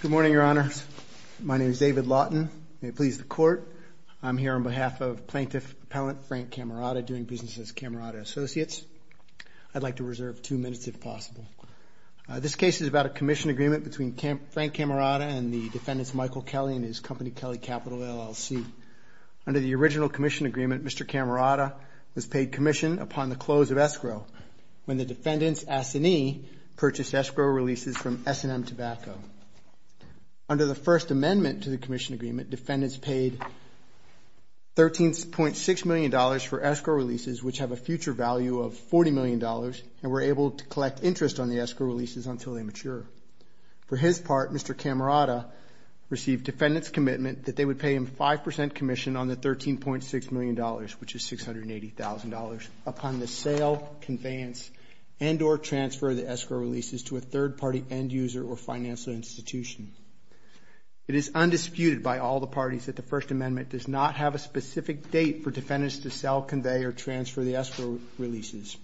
Good morning, Your Honor. My name is David Laughton. May it please the Court, I'm here on behalf of Plaintiff Appellant Frank Cammarata doing business as Cammarata Associates. I'd like to reserve two minutes if possible. This case is about a commission agreement between Frank Cammarata and the defendants Michael Kelly and his company Kelly Capital, LLC. Under the original commission agreement, Mr. Cammarata was paid commission upon the close of escrow when the defendants, Assanee, purchased escrow releases from S&M Tobacco. Under the first amendment to the commission agreement, defendants paid $13.6 million for escrow releases which have a future value of $40 million and were able to collect interest on the escrow releases until they mature. For his part, Mr. Cammarata received defendants' commitment that they would pay him 5% commission on the $13.6 million, which is $680,000, upon the sale, conveyance, and or transfer of the escrow releases to a third party end user or financial institution. It is undisputed by all the parties that the first amendment does not have a specific date for defendants to sell, convey, or transfer the escrow releases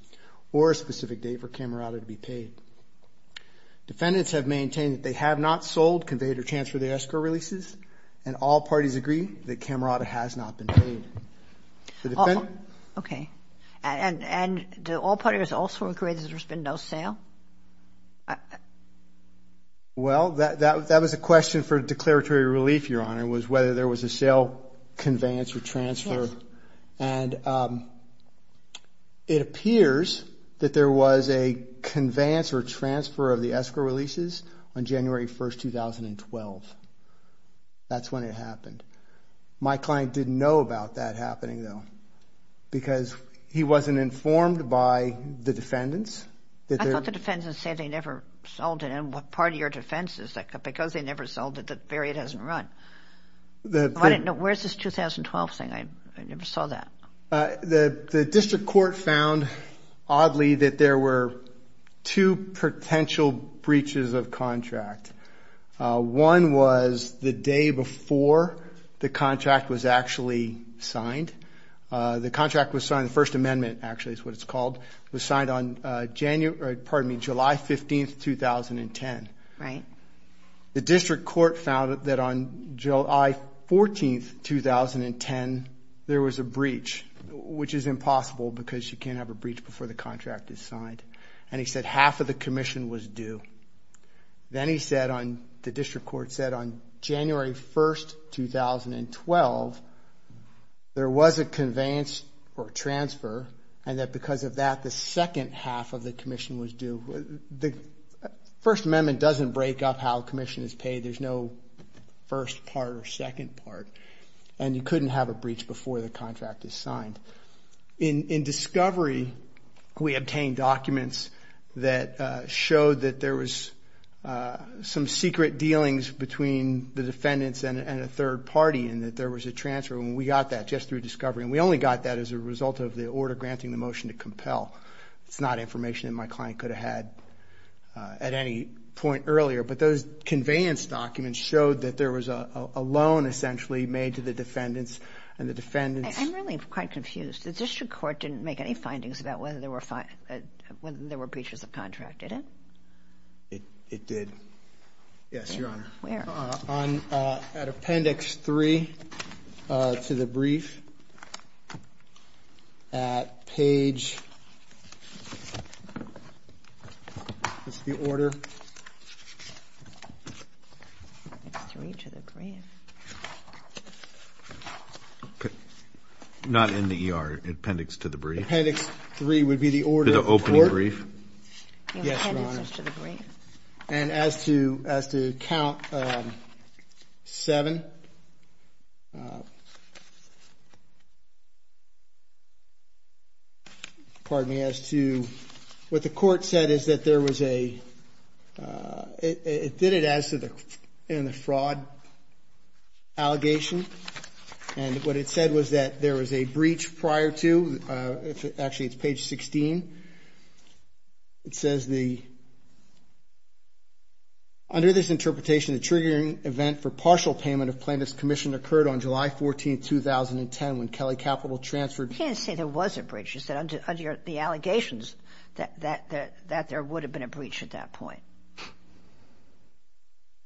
or a specific date for Cammarata to be paid. Defendants have maintained that they have not sold, conveyed, or transferred the escrow releases, and all parties agree that Cammarata has not been paid. Okay. And do all parties also agree that there's been no sale? Well, that was a question for declaratory relief, Your Honor, was whether there was a sale, conveyance, or transfer. And it appears that there was a conveyance or transfer of the escrow releases on January 1st, 2012. That's when it happened. My client didn't know about that happening, though, because he wasn't informed by the defendants that they're... I thought the defendants said they never sold it. And part of your defense is that because they never sold it, the period hasn't run. Where's this 2012 thing? I never saw that. The district court found, oddly, that there were two potential breaches of the contract. One was the day before the contract was actually signed. The contract was signed, the First Amendment, actually, is what it's called, was signed on July 15th, 2010. Right. The district court found that on July 14th, 2010, there was a breach, which is impossible because you can't have a breach before the contract is signed. And he said half of the commission was due. Then he said, the district court said on January 1st, 2012, there was a conveyance or transfer, and that because of that, the second half of the commission was due. The First Amendment doesn't break up how commission is paid. There's no first part or second part. And you couldn't have a breach before the contract is signed. In discovery, we obtained documents that showed that there was some secret dealings between the defendants and a third party, and that there was a transfer. And we got that just through discovery. And we only got that as a result of the order granting the motion to compel. It's not information that my client could have had at any point earlier. But those conveyance documents showed that there was a loan, essentially, made to the defendants, and the defendants... I'm really quite confused. The district court didn't make any findings about whether there were breaches of contract, did it? It did. Yes, Your Honor. Where? At Not in the E.R. Appendix to the brief. Appendix 3 would be the order of the court? The opening brief? Yes, Your Honor. And as to count 7... Pardon me, as to... What the court said is that there was a... It did it as to the fraud allegation. And what it said was that there was a breach prior to... Actually, it's page 16. It says the... Under this interpretation, the triggering event for partial payment of plaintiff's commission occurred on July 14, 2010, when Kelly Capital transferred... You can't say there was a breach. You said under the allegations that there would have been a breach at that point.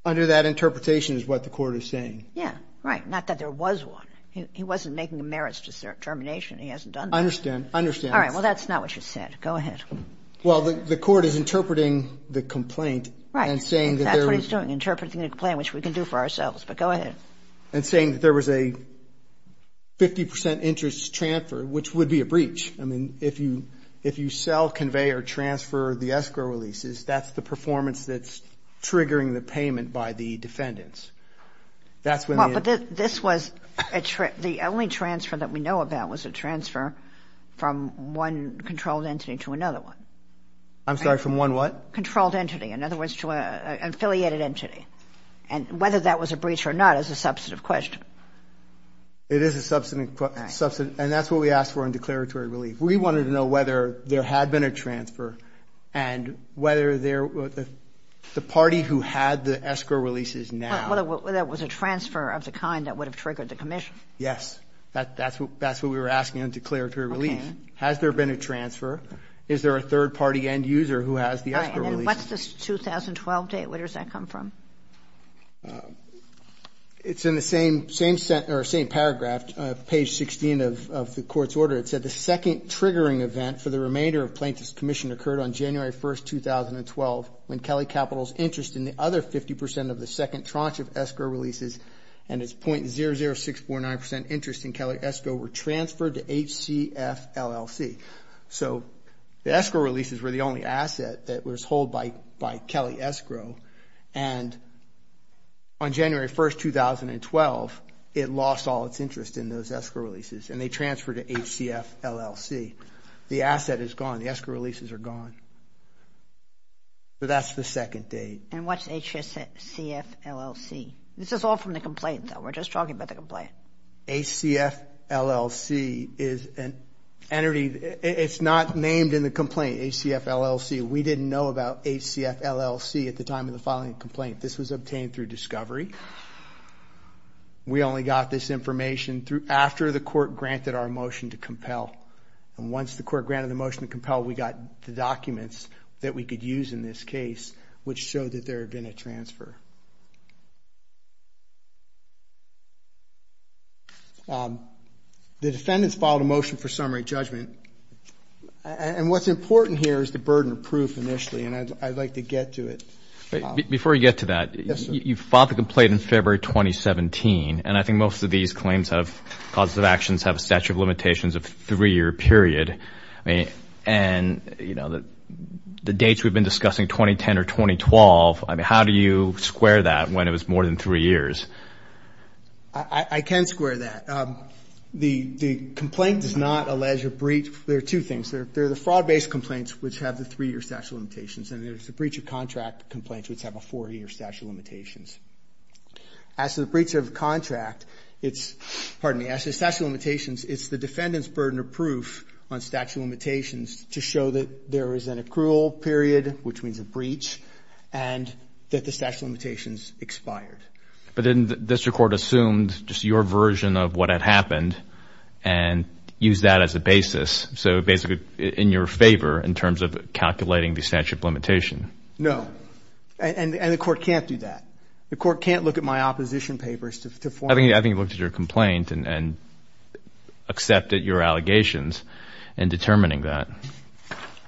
Under that interpretation is what the court is saying. Yeah. Right. Not that there was one. He wasn't making merits to termination. He hasn't done that. I understand. I understand. All right. Well, that's not what you said. Go ahead. Well, the court is interpreting the complaint and saying that there was... Right. That's what he's doing, interpreting the complaint, which we can do for ourselves. But go ahead. And saying that there was a 50 percent interest transfer, which would be a breach. I mean, if you sell, convey, or transfer the escrow releases, that's the performance that's triggering the payment by the defendants. That's when... Well, but this was a... The only transfer that we know about was a transfer from one controlled entity to another one. I'm sorry. From one what? Controlled entity. In other words, to an affiliated entity. And whether that was a breach or not is a substantive question. It is a substantive question. And that's what we asked for in declaratory relief. We wanted to know whether there had been a transfer and whether the party who had the escrow releases now... That was a transfer of the kind that would have triggered the commission. Yes. That's what we were asking in declaratory relief. Has there been a transfer? Is there a third party end user who has the escrow releases? Right. And what's the 2012 date? Where does that come from? It's in the same paragraph, page 16 of the court's order. It said the second triggering event for the remainder of Plaintiff's Commission occurred on January 1st, 2012, when Kelly Capital's interest in the other 50 percent of the second tranche of escrow releases and its .00649 percent interest in Kelly Escrow were transferred to HCFLLC. So the escrow releases were the only asset that was hold by Kelly Escrow. And on January 1st, 2012, it lost all its interest in those escrow releases and they transferred to HCFLLC. The asset is gone. The escrow releases are gone. So that's the second date. And what's HCFLLC? This is all from the complaint, though. We're just talking about the complaint. HCFLLC is an entity... It's not named in the complaint, HCFLLC. We didn't know about HCFLLC at the time of the filing of the complaint. This was obtained through discovery. We only got this information after the court granted our motion to compel. Once the court granted the motion to compel, we got the documents that we could use in this case, which showed that there had been a transfer. The defendants filed a motion for summary judgment. And what's important here is the burden of proof initially, and I'd like to get to it. Before you get to that, you filed the complaint in February 2017, and I think most of these claims of causes of actions have a statute of limitations of three-year period. And the dates we've been discussing, 2010 or 2012, I mean, how do you square that when it was more than three years? I can square that. The complaint does not allege a breach... There are two things. There are the fraud-based complaints, which have the three-year statute of limitations, and there's the breach of contract complaints, which have a four-year statute of limitations. As to the breach of contract, it's... Pardon me. As to the statute of limitations, it's the defendant's burden of proof on statute of limitations to show that there is an accrual period, which means a breach, and that the statute of limitations expired. But didn't the district court assume just your version of what had happened and use that as a basis, so basically in your favor in terms of calculating the statute of limitations? No. And the court can't do that. The court can't look at my opposition papers to form... I think you looked at your complaint and accepted your allegations in determining that.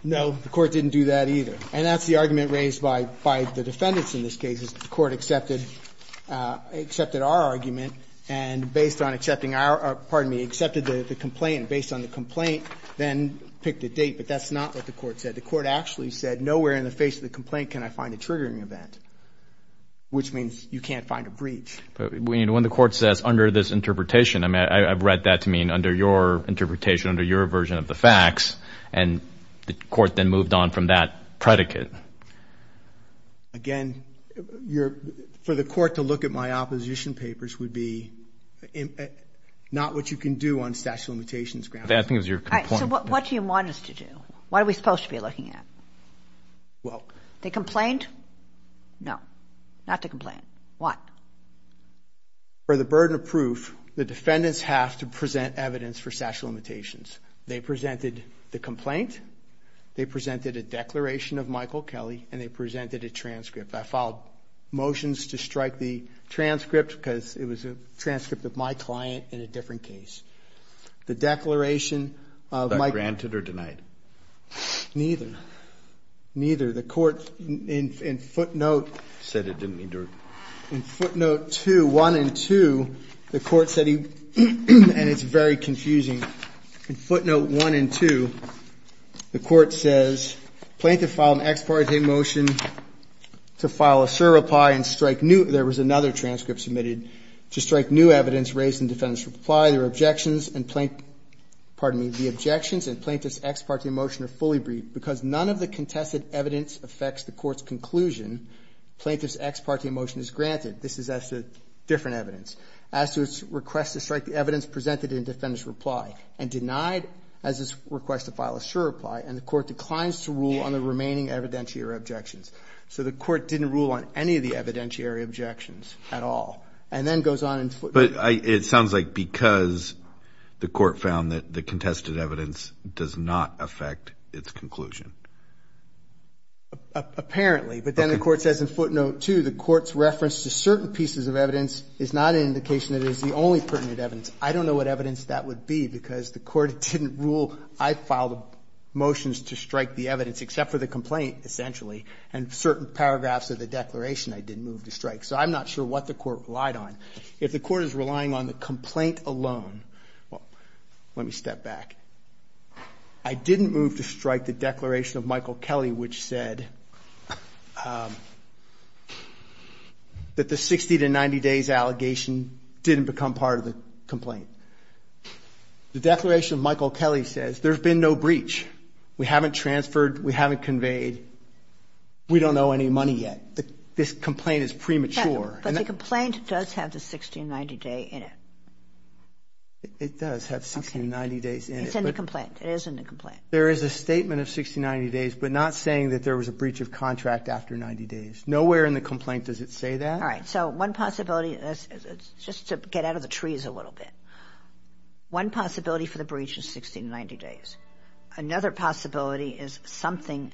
No, the court didn't do that either. And that's the argument raised by the defendants in this case is the court accepted our argument and based on accepting our... Pardon me. Accepted the complaint based on the complaint, then picked a date, but that's not what the court said. The court actually said nowhere in the face of the complaint can I find a triggering event, which means you can't find a breach. When the court says under this interpretation, I've read that to mean under your interpretation, under your version of the facts, and the court then moved on from that predicate. Again, for the court to look at my opposition papers would be not what you can do on statute of limitations grounds. So what do you want us to do? What are we supposed to be looking at? Well... The complaint? No. Not the complaint. Why? For the burden of proof, the defendants have to present evidence for statute of limitations. They presented the complaint, they presented a declaration of Michael Kelly, and they presented a transcript. I filed motions to strike the transcript because it was a transcript of my client in a different case. The declaration of... Was that granted or denied? Neither. Neither. The court in footnote... Said it didn't endure. In footnote 2, 1 and 2, the court said he... And it's very confusing. In footnote 1 and 2, the court says, Plaintiff filed an ex parte motion to file a cert reply and strike new... There was another transcript submitted to strike new evidence raised in the defendant's reply. Their objections and plaint... Pardon me, the objections and plaintiff's ex parte motion are fully briefed because none of the contested evidence affects the court's conclusion. Plaintiff's ex parte motion is granted. This is as to different evidence. As to its request to strike the evidence presented in defendant's reply and denied as this request to file a cert reply, and the court declines to rule on the remaining evidentiary objections. So the court didn't rule on any of the evidentiary objections at all. And then goes on and... But it sounds like because the court found that the contested evidence does not affect its conclusion. Apparently. But then the court says in footnote 2, the court's reference to certain pieces of evidence is not an indication that it is the only pertinent evidence. I don't know what evidence that would be because the court didn't rule. I filed motions to strike the evidence, except for the complaint, essentially, and certain paragraphs of the declaration I didn't move to strike. So I'm not sure what the court relied on. If the court is relying on the complaint alone, well, let me step back. I didn't move to strike the declaration of Michael Kelly, which said that the 60 to 90 days allegation didn't become part of the complaint. The declaration of Michael Kelly says there's been no breach. We haven't transferred. We haven't conveyed. We don't know any money yet. This complaint is premature. But the complaint does have the 60 to 90 day in it. It does have 60 to 90 days in it. It's in the complaint. It is in the complaint. There is a statement of 60 to 90 days, but not saying that there was a breach of contract after 90 days. Nowhere in the complaint does it say that. All right. So one possibility, just to get out of the trees a little bit, one possibility for the breach is 60 to 90 days. Another possibility is something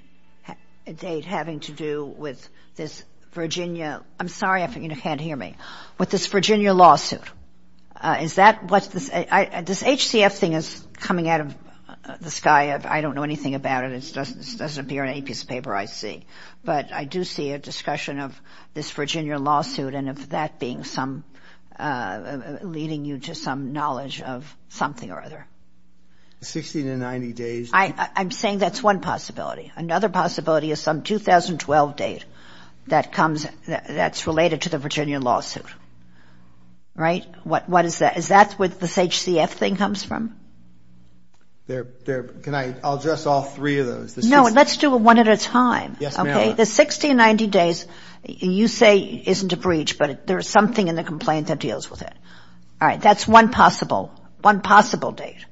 having to do with this Virginia – I'm sorry if you can't hear me – with this Virginia lawsuit. Is that what – this HCF thing is coming out of the sky. I don't know anything about it. It doesn't appear in any piece of paper I see. But I do see a discussion of this Virginia lawsuit and of that being some – leading you to some knowledge of something or other. 60 to 90 days. I'm saying that's one possibility. Another possibility is some 2012 date that comes – that's related to the Virginia lawsuit. Right? What is that? Is that where this HCF thing comes from? Can I – I'll address all three of those. No. Let's do one at a time. Yes, ma'am. Okay. The 60 to 90 days you say isn't a breach, but there is something in the complaint that deals with it. All right. That's one possible – one possible date.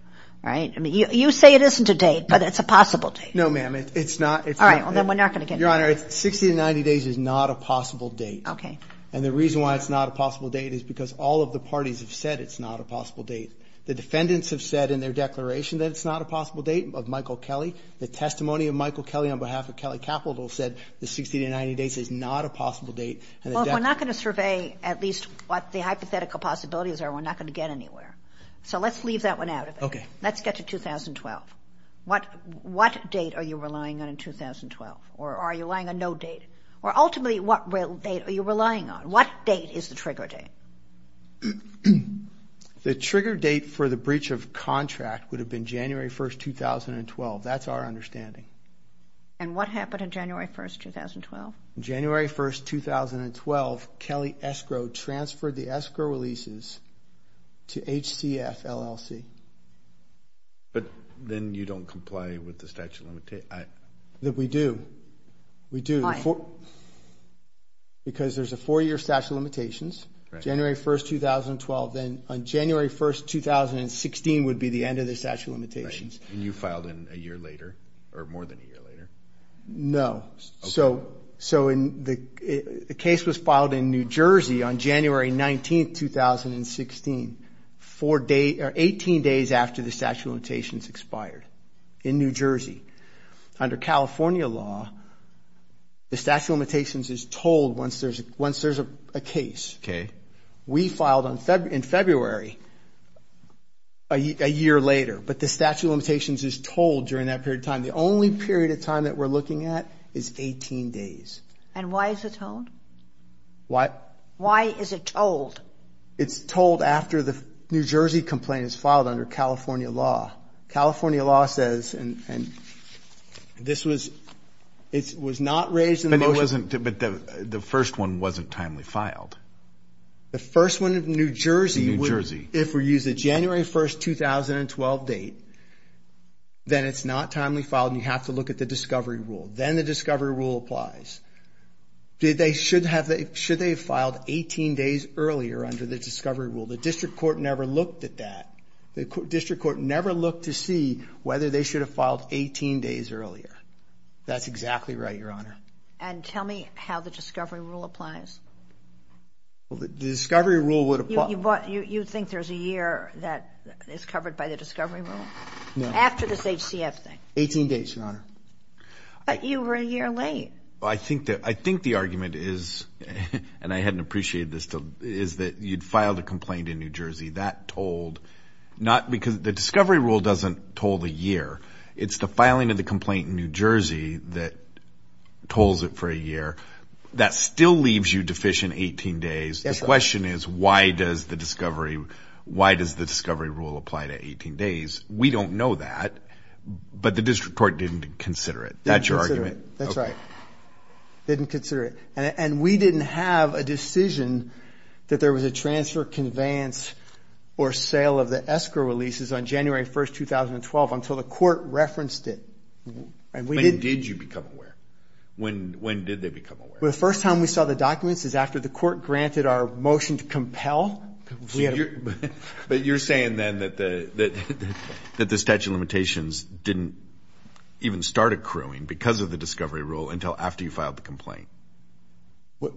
All right. You say it isn't a date, but it's a possible date. No, ma'am. It's not. All right. Then we're not going to get into that. Your Honor, 60 to 90 days is not a possible date. Okay. And the reason why it's not a possible date is because all of the parties have said it's not a possible date. The defendants have said in their declaration that it's not a possible date of Michael Kelly. The testimony of Michael Kelly on behalf of Kelly Capital said the 60 to 90 days is not a possible date. Well, if we're not going to survey at least what the hypothetical possibilities are, we're not going to get anywhere. So let's leave that one out of it. Okay. Let's get to 2012. What date are you relying on in 2012? Or are you relying on no date? Or ultimately, what date are you relying on? What date is the trigger date? The trigger date for the breach of contract would have been January 1, 2012. That's our understanding. And what happened on January 1, 2012? January 1, 2012, Kelly Escrow transferred the escrow releases to HCF LLC. But then you don't comply with the statute of limitations? We do. We do. Why? Because there's a four-year statute of limitations. Right. January 1, 2012. Then on January 1, 2016 would be the end of the statute of limitations. Right. And you filed in a year later or more than a year later? No. Okay. So the case was filed in New Jersey on January 19, 2016, 18 days after the statute of limitations expired in New Jersey. Under California law, the statute of limitations is told once there's a case. Okay. We filed in February a year later. But the statute of limitations is told during that period of time. The only period of time that we're looking at is 18 days. And why is it told? Why? Why is it told? It's told after the New Jersey complaint is filed under California law. California law says, and this was not raised in the motion. But the first one wasn't timely filed. The first one in New Jersey. In New Jersey. If we use the January 1, 2012 date, then it's not timely filed and you have to look at the discovery rule. Then the discovery rule applies. Should they have filed 18 days earlier under the discovery rule? The district court never looked at that. The district court never looked to see whether they should have filed 18 days earlier. That's exactly right, Your Honor. And tell me how the discovery rule applies. The discovery rule would apply. You think there's a year that is covered by the discovery rule? No. After this HCF thing. 18 days, Your Honor. But you were a year late. I think the argument is, and I hadn't appreciated this, is that you'd filed a complaint in New Jersey. That told not because the discovery rule doesn't told a year. It's the filing of the complaint in New Jersey that told it for a year. That still leaves you deficient 18 days. The question is, why does the discovery rule apply to 18 days? We don't know that. But the district court didn't consider it. That's your argument? Didn't consider it. That's right. Didn't consider it. And we didn't have a decision that there was a transfer, conveyance, or sale of the escrow releases on January 1, 2012 until the court referenced it. When did you become aware? When did they become aware? Well, the first time we saw the documents is after the court granted our motion to compel. But you're saying then that the statute of limitations didn't even start accruing because of the discovery rule until after you filed the complaint. What?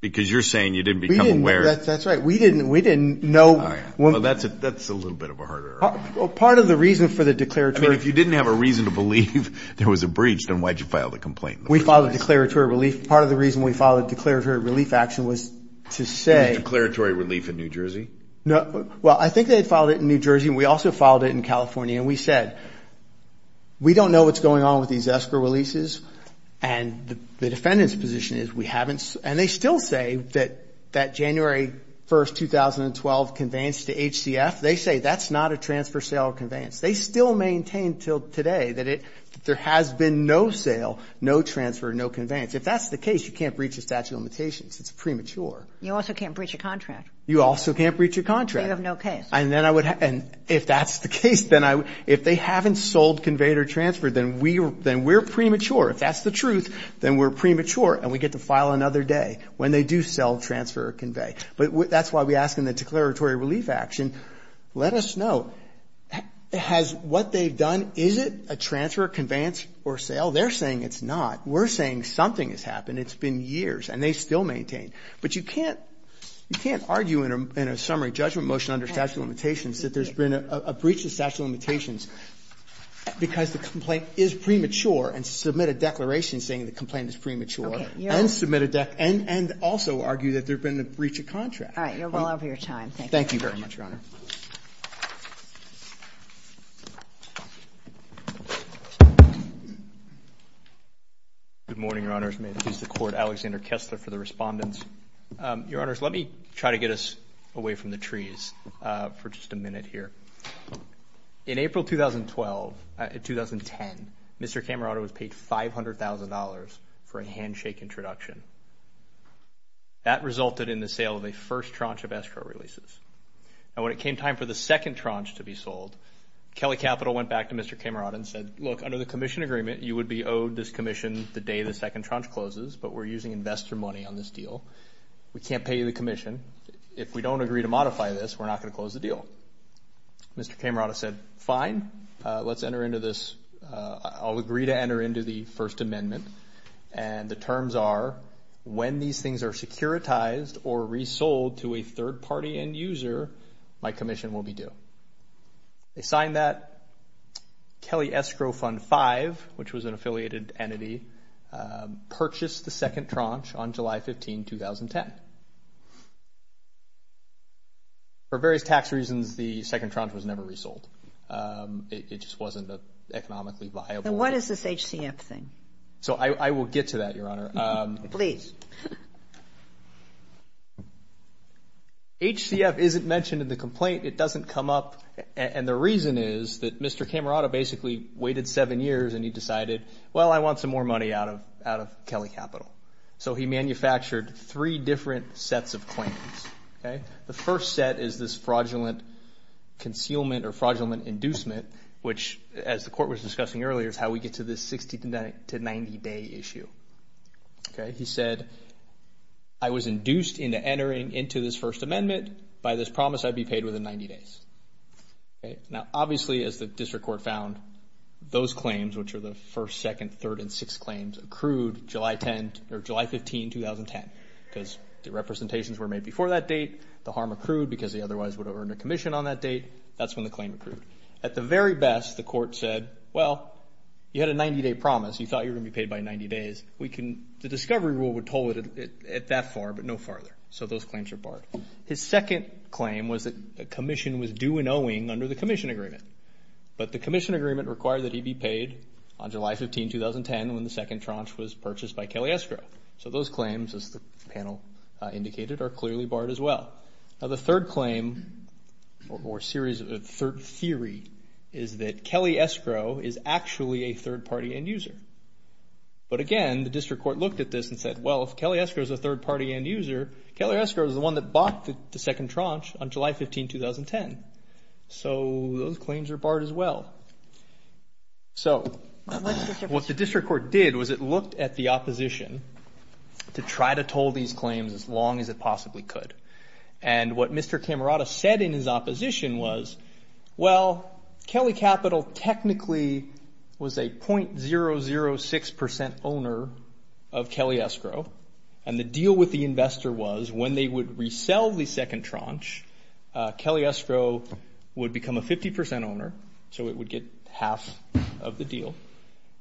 Because you're saying you didn't become aware. That's right. We didn't know. That's a little bit of a harder argument. Part of the reason for the declaratory. I mean, if you didn't have a reason to believe there was a breach, then why did you file the complaint? We filed a declaratory relief. Part of the reason we filed a declaratory relief action was to say. Was it declaratory relief in New Jersey? Well, I think they had filed it in New Jersey, and we also filed it in California. And we said, we don't know what's going on with these escrow releases, and the defendant's position is we haven't. And they still say that that January 1, 2012 conveyance to HCF, they say that's not a transfer, sale, or conveyance. They still maintain until today that there has been no sale, no transfer, no conveyance. If that's the case, you can't breach a statute of limitations. It's premature. You also can't breach a contract. You also can't breach a contract. So you have no case. And if that's the case, then if they haven't sold, conveyed, or transferred, then we're premature. If that's the truth, then we're premature, and we get to file another day when they do sell, transfer, or convey. But that's why we ask in the declaratory relief action, let us know, has what they've done, is it a transfer, conveyance, or sale? They're saying it's not. We're saying something has happened. It's been years. And they still maintain. But you can't argue in a summary judgment motion under statute of limitations that there's been a breach of statute of limitations because the complaint is premature and submit a declaration saying the complaint is premature and submit a declaration and also argue that there's been a breach of contract. All right. You're well over your time. Thank you very much, Your Honor. Good morning, Your Honors. May it please the Court, Alexander Kessler for the respondents. Your Honors, let me try to get us away from the trees for just a minute here. In April 2010, Mr. Camarado was paid $500,000 for a handshake introduction. That resulted in the sale of a first tranche of escrow releases. And when it came time for the second tranche to be sold, Kelly Capital went back to Mr. Camarado and said, look, under the commission agreement, you would be owed this commission the day the second tranche closes, but we're using investor money on this deal. We can't pay you the commission. If we don't agree to modify this, we're not going to close the deal. Mr. Camarado said, fine, let's enter into this. I'll agree to enter into the First Amendment. And the terms are, when these things are securitized or resold to a third-party end user, my commission will be due. They signed that. Kelly Escrow Fund 5, which was an affiliated entity, purchased the second tranche on July 15, 2010. For various tax reasons, the second tranche was never resold. It just wasn't economically viable. Now, what is this HCF thing? So I will get to that, Your Honor. Please. HCF isn't mentioned in the complaint. It doesn't come up. And the reason is that Mr. Camarado basically waited seven years and he decided, well, I want some more money out of Kelly Capital. So he manufactured three different sets of claims. The first set is this fraudulent concealment or fraudulent inducement, which, as the court was discussing earlier, is how we get to this 60- to 90-day issue. He said, I was induced into entering into this First Amendment. By this promise, I'd be paid within 90 days. Now, obviously, as the district court found, those claims, which are the first, second, third, and sixth claims, accrued July 15, 2010. Because the representations were made before that date. The harm accrued because they otherwise would have earned a commission on that date. That's when the claim accrued. At the very best, the court said, well, you had a 90-day promise. You thought you were going to be paid by 90 days. The discovery rule would hold it at that far, but no farther. So those claims are barred. His second claim was that a commission was due and owing under the commission agreement. But the commission agreement required that he be paid on July 15, 2010, when the second tranche was purchased by Kelly Escrow. So those claims, as the panel indicated, are clearly barred as well. Now, the third claim or theory is that Kelly Escrow is actually a third-party end user. But again, the district court looked at this and said, well, if Kelly Escrow is a third-party end user, Kelly Escrow is the one that bought the second tranche on July 15, 2010. So those claims are barred as well. So what the district court did was it looked at the opposition to try to toll these claims as long as it possibly could. And what Mr. Camerata said in his opposition was, well, Kelly Capital technically was a .006% owner of Kelly Escrow, and the deal with the investor was when they would resell the second tranche, Kelly Escrow would become a 50% owner, so it would get half of the deal.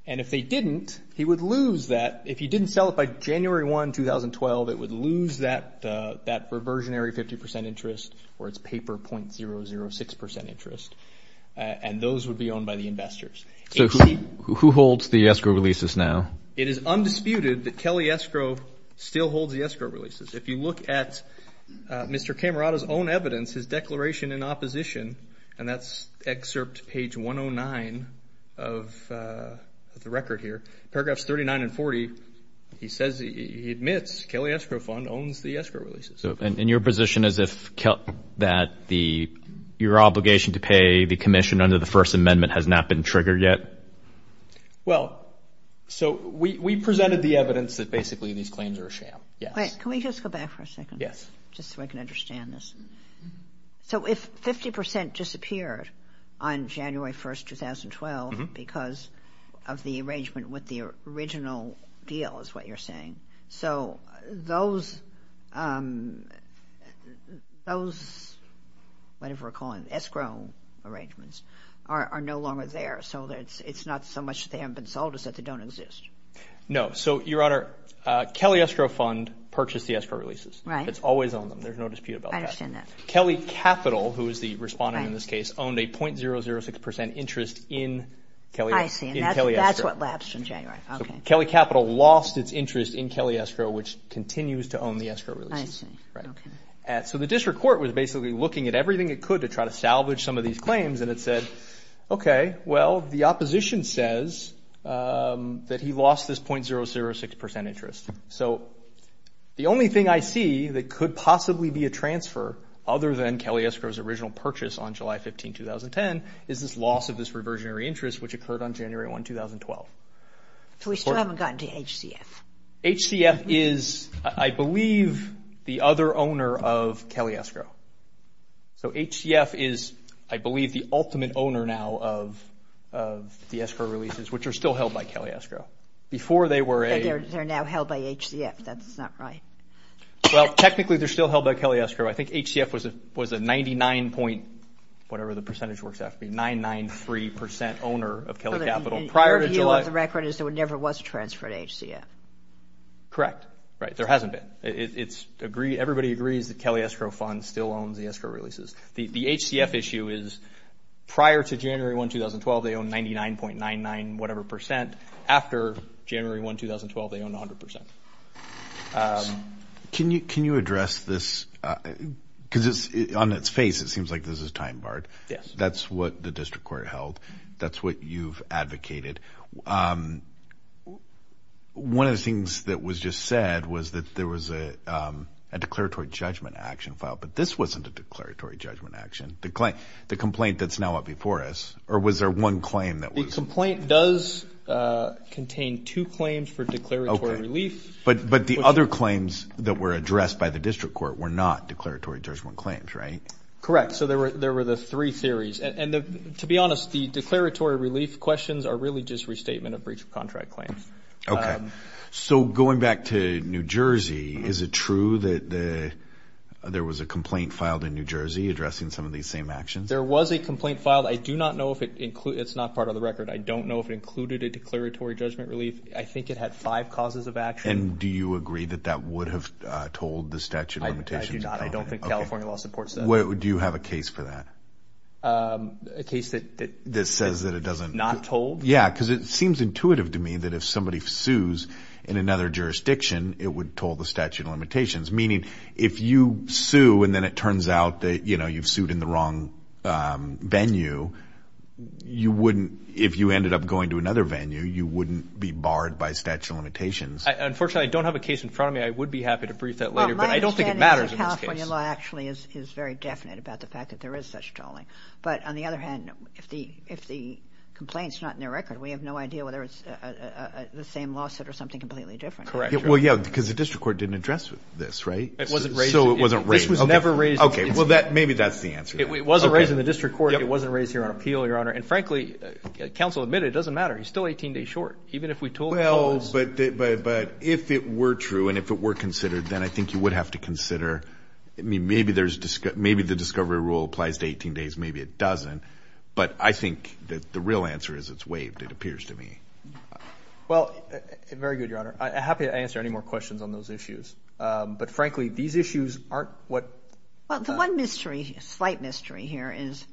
And if they didn't, he would lose that. If he didn't sell it by January 1, 2012, it would lose that reversionary 50% interest or its paper .006% interest, and those would be owned by the investors. So who holds the Escrow releases now? It is undisputed that Kelly Escrow still holds the Escrow releases. If you look at Mr. Camerata's own evidence, his declaration in opposition, and that's excerpt page 109 of the record here, paragraphs 39 and 40, he admits Kelly Escrow Fund owns the Escrow releases. And your position is that your obligation to pay the commission under the First Amendment has not been triggered yet? Well, so we presented the evidence that basically these claims are a sham. Can we just go back for a second? Yes. Just so I can understand this. So if 50% disappeared on January 1, 2012 because of the arrangement with the original deal is what you're saying, so those whatever we're calling Escrow arrangements are no longer there, so it's not so much that they haven't been sold as that they don't exist? No. So, Your Honor, Kelly Escrow Fund purchased the Escrow releases. Right. And it's always owned them. There's no dispute about that. I understand that. Kelly Capital, who is the respondent in this case, owned a .006% interest in Kelly Escrow. I see. And that's what lapsed in January. Okay. So Kelly Capital lost its interest in Kelly Escrow, which continues to own the Escrow releases. I see. Right. Okay. So the district court was basically looking at everything it could to try to salvage some of these claims, and it said, okay, well, the opposition says that he lost this .006% interest. So the only thing I see that could possibly be a transfer, other than Kelly Escrow's original purchase on July 15, 2010, is this loss of this reversionary interest, which occurred on January 1, 2012. So we still haven't gotten to HCF. HCF is, I believe, the other owner of Kelly Escrow. So HCF is, I believe, the ultimate owner now of the Escrow releases, which are still held by Kelly Escrow. They're now held by HCF. That's not right. Well, technically, they're still held by Kelly Escrow. I think HCF was a 99... whatever the percentage works out to be, 99.3% owner of Kelly Capital prior to July. So the deal of the record is there never was a transfer to HCF. Correct. Right. There hasn't been. Everybody agrees that Kelly Escrow Fund still owns the Escrow releases. The HCF issue is prior to January 1, 2012, they owned 99.99 whatever percent. After January 1, 2012, they owned 100%. Can you address this? Because on its face, it seems like this is time-barred. Yes. That's what the district court held. That's what you've advocated. One of the things that was just said was that there was a declaratory judgment action filed. But this wasn't a declaratory judgment action, the complaint that's now up before us. Or was there one claim that was... It contained two claims for declaratory relief. But the other claims that were addressed by the district court were not declaratory judgment claims, right? Correct. So there were the three theories. And to be honest, the declaratory relief questions are really just restatement of breach of contract claims. Okay. So going back to New Jersey, is it true that there was a complaint filed in New Jersey addressing some of these same actions? There was a complaint filed. I do not know if it included... it's not part of the record. I don't know if it included a declaratory judgment relief. I think it had five causes of action. And do you agree that that would have told the statute of limitations? I do not. I don't think California law supports that. Do you have a case for that? A case that... That says that it doesn't... Not told? Yeah, because it seems intuitive to me that if somebody sues in another jurisdiction, it would toll the statute of limitations. Meaning if you sue and then it turns out that, you know, you've sued in the wrong venue, you wouldn't... if you ended up going to another venue, you wouldn't be barred by statute of limitations. Unfortunately, I don't have a case in front of me. I would be happy to brief that later, but I don't think it matters in this case. Well, my understanding is that California law actually is very definite about the fact that there is such tolling. But on the other hand, if the complaint is not in the record, we have no idea whether it's the same lawsuit or something completely different. Correct. Well, yeah, because the district court didn't address this, right? It wasn't raised... So it wasn't raised... This was never raised... Okay, well, maybe that's the answer. It wasn't raised in the district court. Yep. It wasn't raised here on appeal, Your Honor. And frankly, counsel admitted it doesn't matter. He's still 18 days short. Even if we told him... Well, but if it were true and if it were considered, then I think you would have to consider... I mean, maybe the discovery rule applies to 18 days, maybe it doesn't. But I think that the real answer is it's waived, it appears to me. Well, very good, Your Honor. I'm happy to answer any more questions on those issues. But frankly, these issues aren't what... Well, the one mystery, slight mystery here is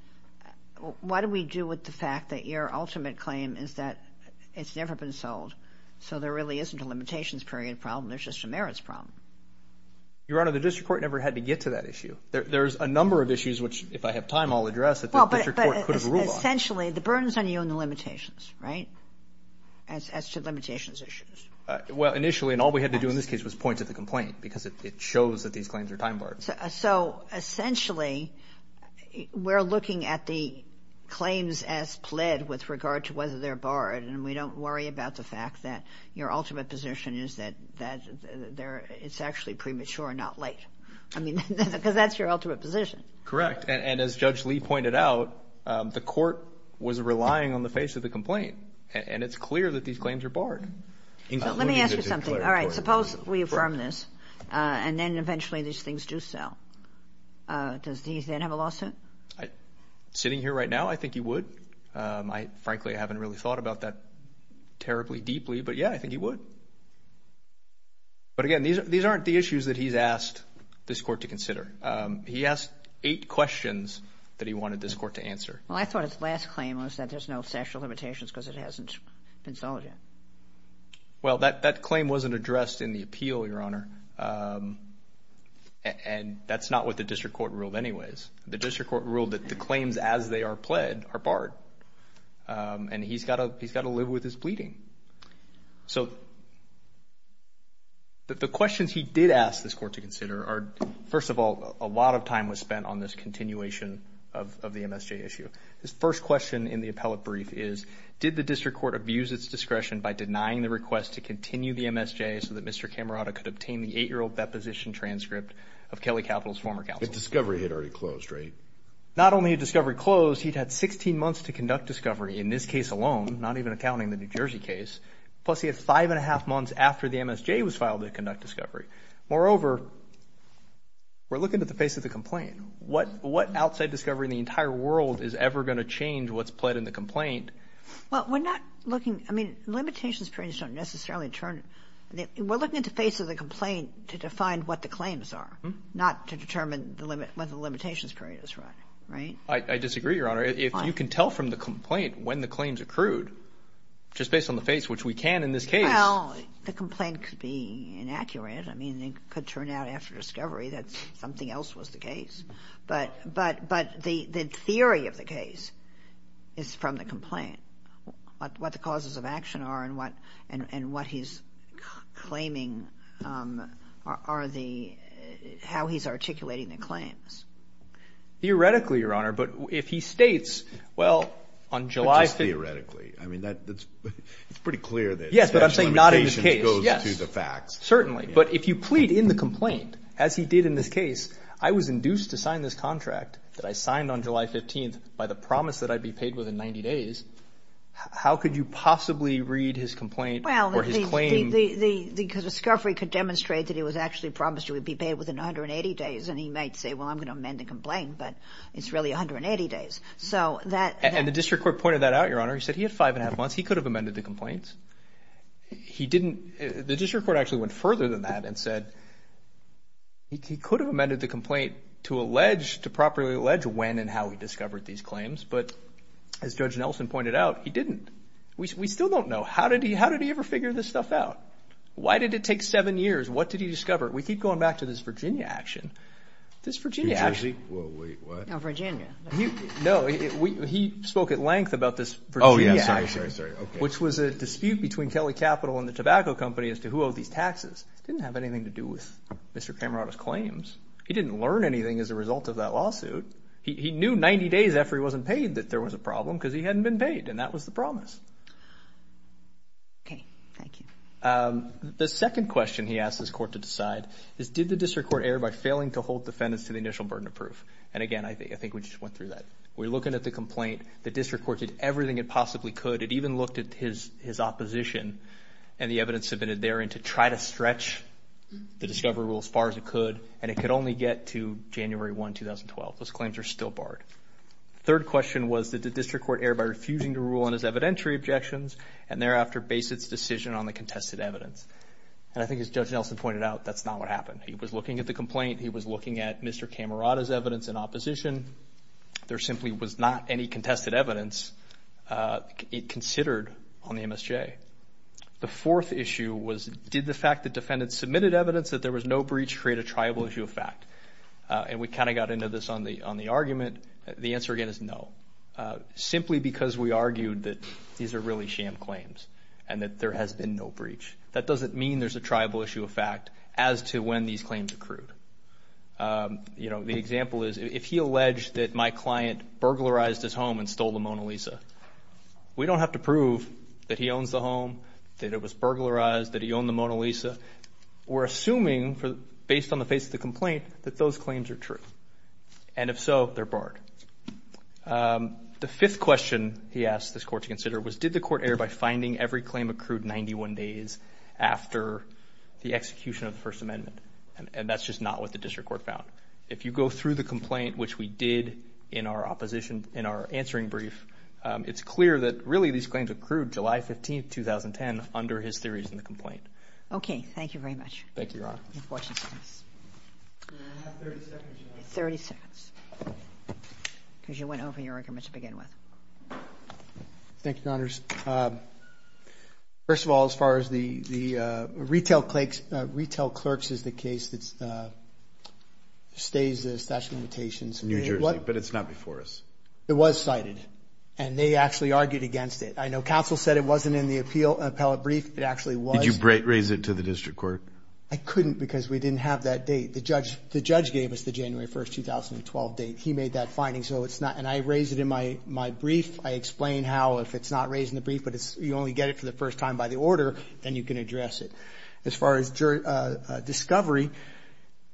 what do we do with the fact that your ultimate claim is that it's never been sold, so there really isn't a limitations period problem, there's just a merits problem. Your Honor, the district court never had to get to that issue. There's a number of issues which, if I have time, I'll address that the district court could have ruled on. But essentially, the burden is on you and the limitations, right, as to limitations issues. Well, initially, and all we had to do in this case was point to the complaint because it shows that these claims are time barred. So essentially, we're looking at the claims as pled with regard to whether they're barred, and we don't worry about the fact that your ultimate position is that it's actually premature and not late. I mean, because that's your ultimate position. Correct. And as Judge Lee pointed out, the court was relying on the face of the complaint, and it's clear that these claims are barred. Let me ask you something. All right, suppose we affirm this, and then eventually these things do sell. Does he then have a lawsuit? Sitting here right now, I think he would. Frankly, I haven't really thought about that terribly deeply, but, yeah, I think he would. But, again, these aren't the issues that he's asked this court to consider. He asked eight questions that he wanted this court to answer. Well, I thought his last claim was that there's no statute of limitations because it hasn't been solved yet. Well, that claim wasn't addressed in the appeal, Your Honor, and that's not what the district court ruled anyways. The district court ruled that the claims as they are pled are barred, and he's got to live with his bleeding. So the questions he did ask this court to consider are, first of all, a lot of time was spent on this continuation of the MSJ issue. His first question in the appellate brief is, did the district court abuse its discretion by denying the request to continue the MSJ so that Mr. Camerota could obtain the 8-year-old deposition transcript of Kelly Capital's former counsel? The discovery had already closed, right? Not only had discovery closed, he'd had 16 months to conduct discovery. In this case alone, not even accounting the New Jersey case, plus he had five and a half months after the MSJ was filed to conduct discovery. Moreover, we're looking at the face of the complaint. What outside discovery in the entire world is ever going to change what's pled in the complaint? Well, we're not looking. I mean, limitations periods don't necessarily turn. We're looking at the face of the complaint to define what the claims are, not to determine what the limitations period is, right? I disagree, Your Honor. If you can tell from the complaint when the claims accrued, just based on the face, which we can in this case. Well, the complaint could be inaccurate. I mean, it could turn out after discovery that something else was the case. But the theory of the case is from the complaint, what the causes of action are and what he's claiming are the – how he's articulating the claims. Theoretically, Your Honor. But if he states, well, on July – But just theoretically. I mean, that's – it's pretty clear that – Yes, but I'm saying not in this case. Yes, certainly. But if you plead in the complaint, as he did in this case, I was induced to sign this contract that I signed on July 15th by the promise that I'd be paid within 90 days. How could you possibly read his complaint or his claim? Well, the discovery could demonstrate that he was actually promised he would be paid within 180 days. And he might say, well, I'm going to amend the complaint, but it's really 180 days. So that – And the district court pointed that out, Your Honor. He said he had five and a half months. He could have amended the complaints. He didn't – the district court actually went further than that and said he could have amended the complaint to allege – to properly allege when and how he discovered these claims. But as Judge Nelson pointed out, he didn't. We still don't know. How did he ever figure this stuff out? Why did it take seven years? What did he discover? We keep going back to this Virginia action. This Virginia action – Wait, what? No, Virginia. No, he spoke at length about this Virginia action. Oh, yeah, sorry, sorry, sorry. Which was a dispute between Kelly Capital and the tobacco company as to who owed these taxes. It didn't have anything to do with Mr. Camerota's claims. He didn't learn anything as a result of that lawsuit. He knew 90 days after he wasn't paid that there was a problem because he hadn't been paid, and that was the promise. Okay, thank you. The second question he asked his court to decide is, did the district court err by failing to hold defendants to the initial burden of proof? And, again, I think we just went through that. We're looking at the complaint. The district court did everything it possibly could. It even looked at his opposition and the evidence submitted therein to try to stretch the discovery rule as far as it could, and it could only get to January 1, 2012. Those claims are still barred. Third question was, did the district court err by refusing to rule on his evidentiary objections and thereafter base its decision on the contested evidence? And I think, as Judge Nelson pointed out, that's not what happened. He was looking at the complaint. He was looking at Mr. Camerota's evidence in opposition. There simply was not any contested evidence considered on the MSJ. The fourth issue was, did the fact that defendants submitted evidence that there was no breach create a triable issue of fact? And we kind of got into this on the argument. The answer, again, is no. Simply because we argued that these are really sham claims and that there has been no breach. That doesn't mean there's a triable issue of fact as to when these claims accrued. The example is, if he alleged that my client burglarized his home and stole the Mona Lisa, we don't have to prove that he owns the home, that it was burglarized, that he owned the Mona Lisa. We're assuming, based on the face of the complaint, that those claims are true. And if so, they're barred. The fifth question he asked this court to consider was, did the court err by finding every claim accrued 91 days after the execution of the First Amendment? And that's just not what the district court found. If you go through the complaint, which we did in our opposition, in our answering brief, it's clear that, really, these claims accrued July 15, 2010, under his theories in the complaint. Okay, thank you very much. Thank you, Your Honor. I have 30 seconds, Your Honor. 30 seconds. Because you went over your argument to begin with. Thank you, Your Honors. First of all, as far as the retail clerks is the case that stays the statute of limitations. New Jersey, but it's not before us. It was cited, and they actually argued against it. I know counsel said it wasn't in the appellate brief. It actually was. Did you raise it to the district court? I couldn't because we didn't have that date. The judge gave us the January 1, 2012 date. He made that finding, and I raised it in my brief. I explain how, if it's not raised in the brief, but you only get it for the first time by the order, then you can address it. As far as discovery,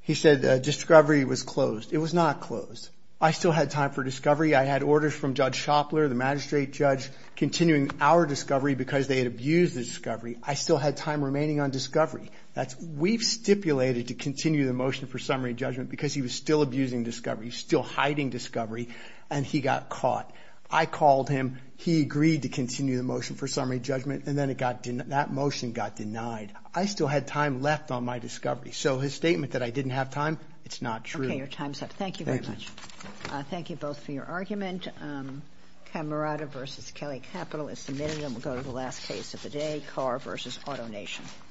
he said discovery was closed. It was not closed. I still had time for discovery. I had orders from Judge Shopler, the magistrate judge, continuing our discovery because they had abused the discovery. I still had time remaining on discovery. We've stipulated to continue the motion for summary judgment because he was still abusing discovery, still hiding discovery, and he got caught. I called him. He agreed to continue the motion for summary judgment, and then that motion got denied. I still had time left on my discovery. So his statement that I didn't have time, it's not true. Okay, your time's up. Thank you very much. Thank you both for your argument. Camerata v. Kelly Capital is submitted, and we'll go to the last case of the day, Carr v. Auto Nation.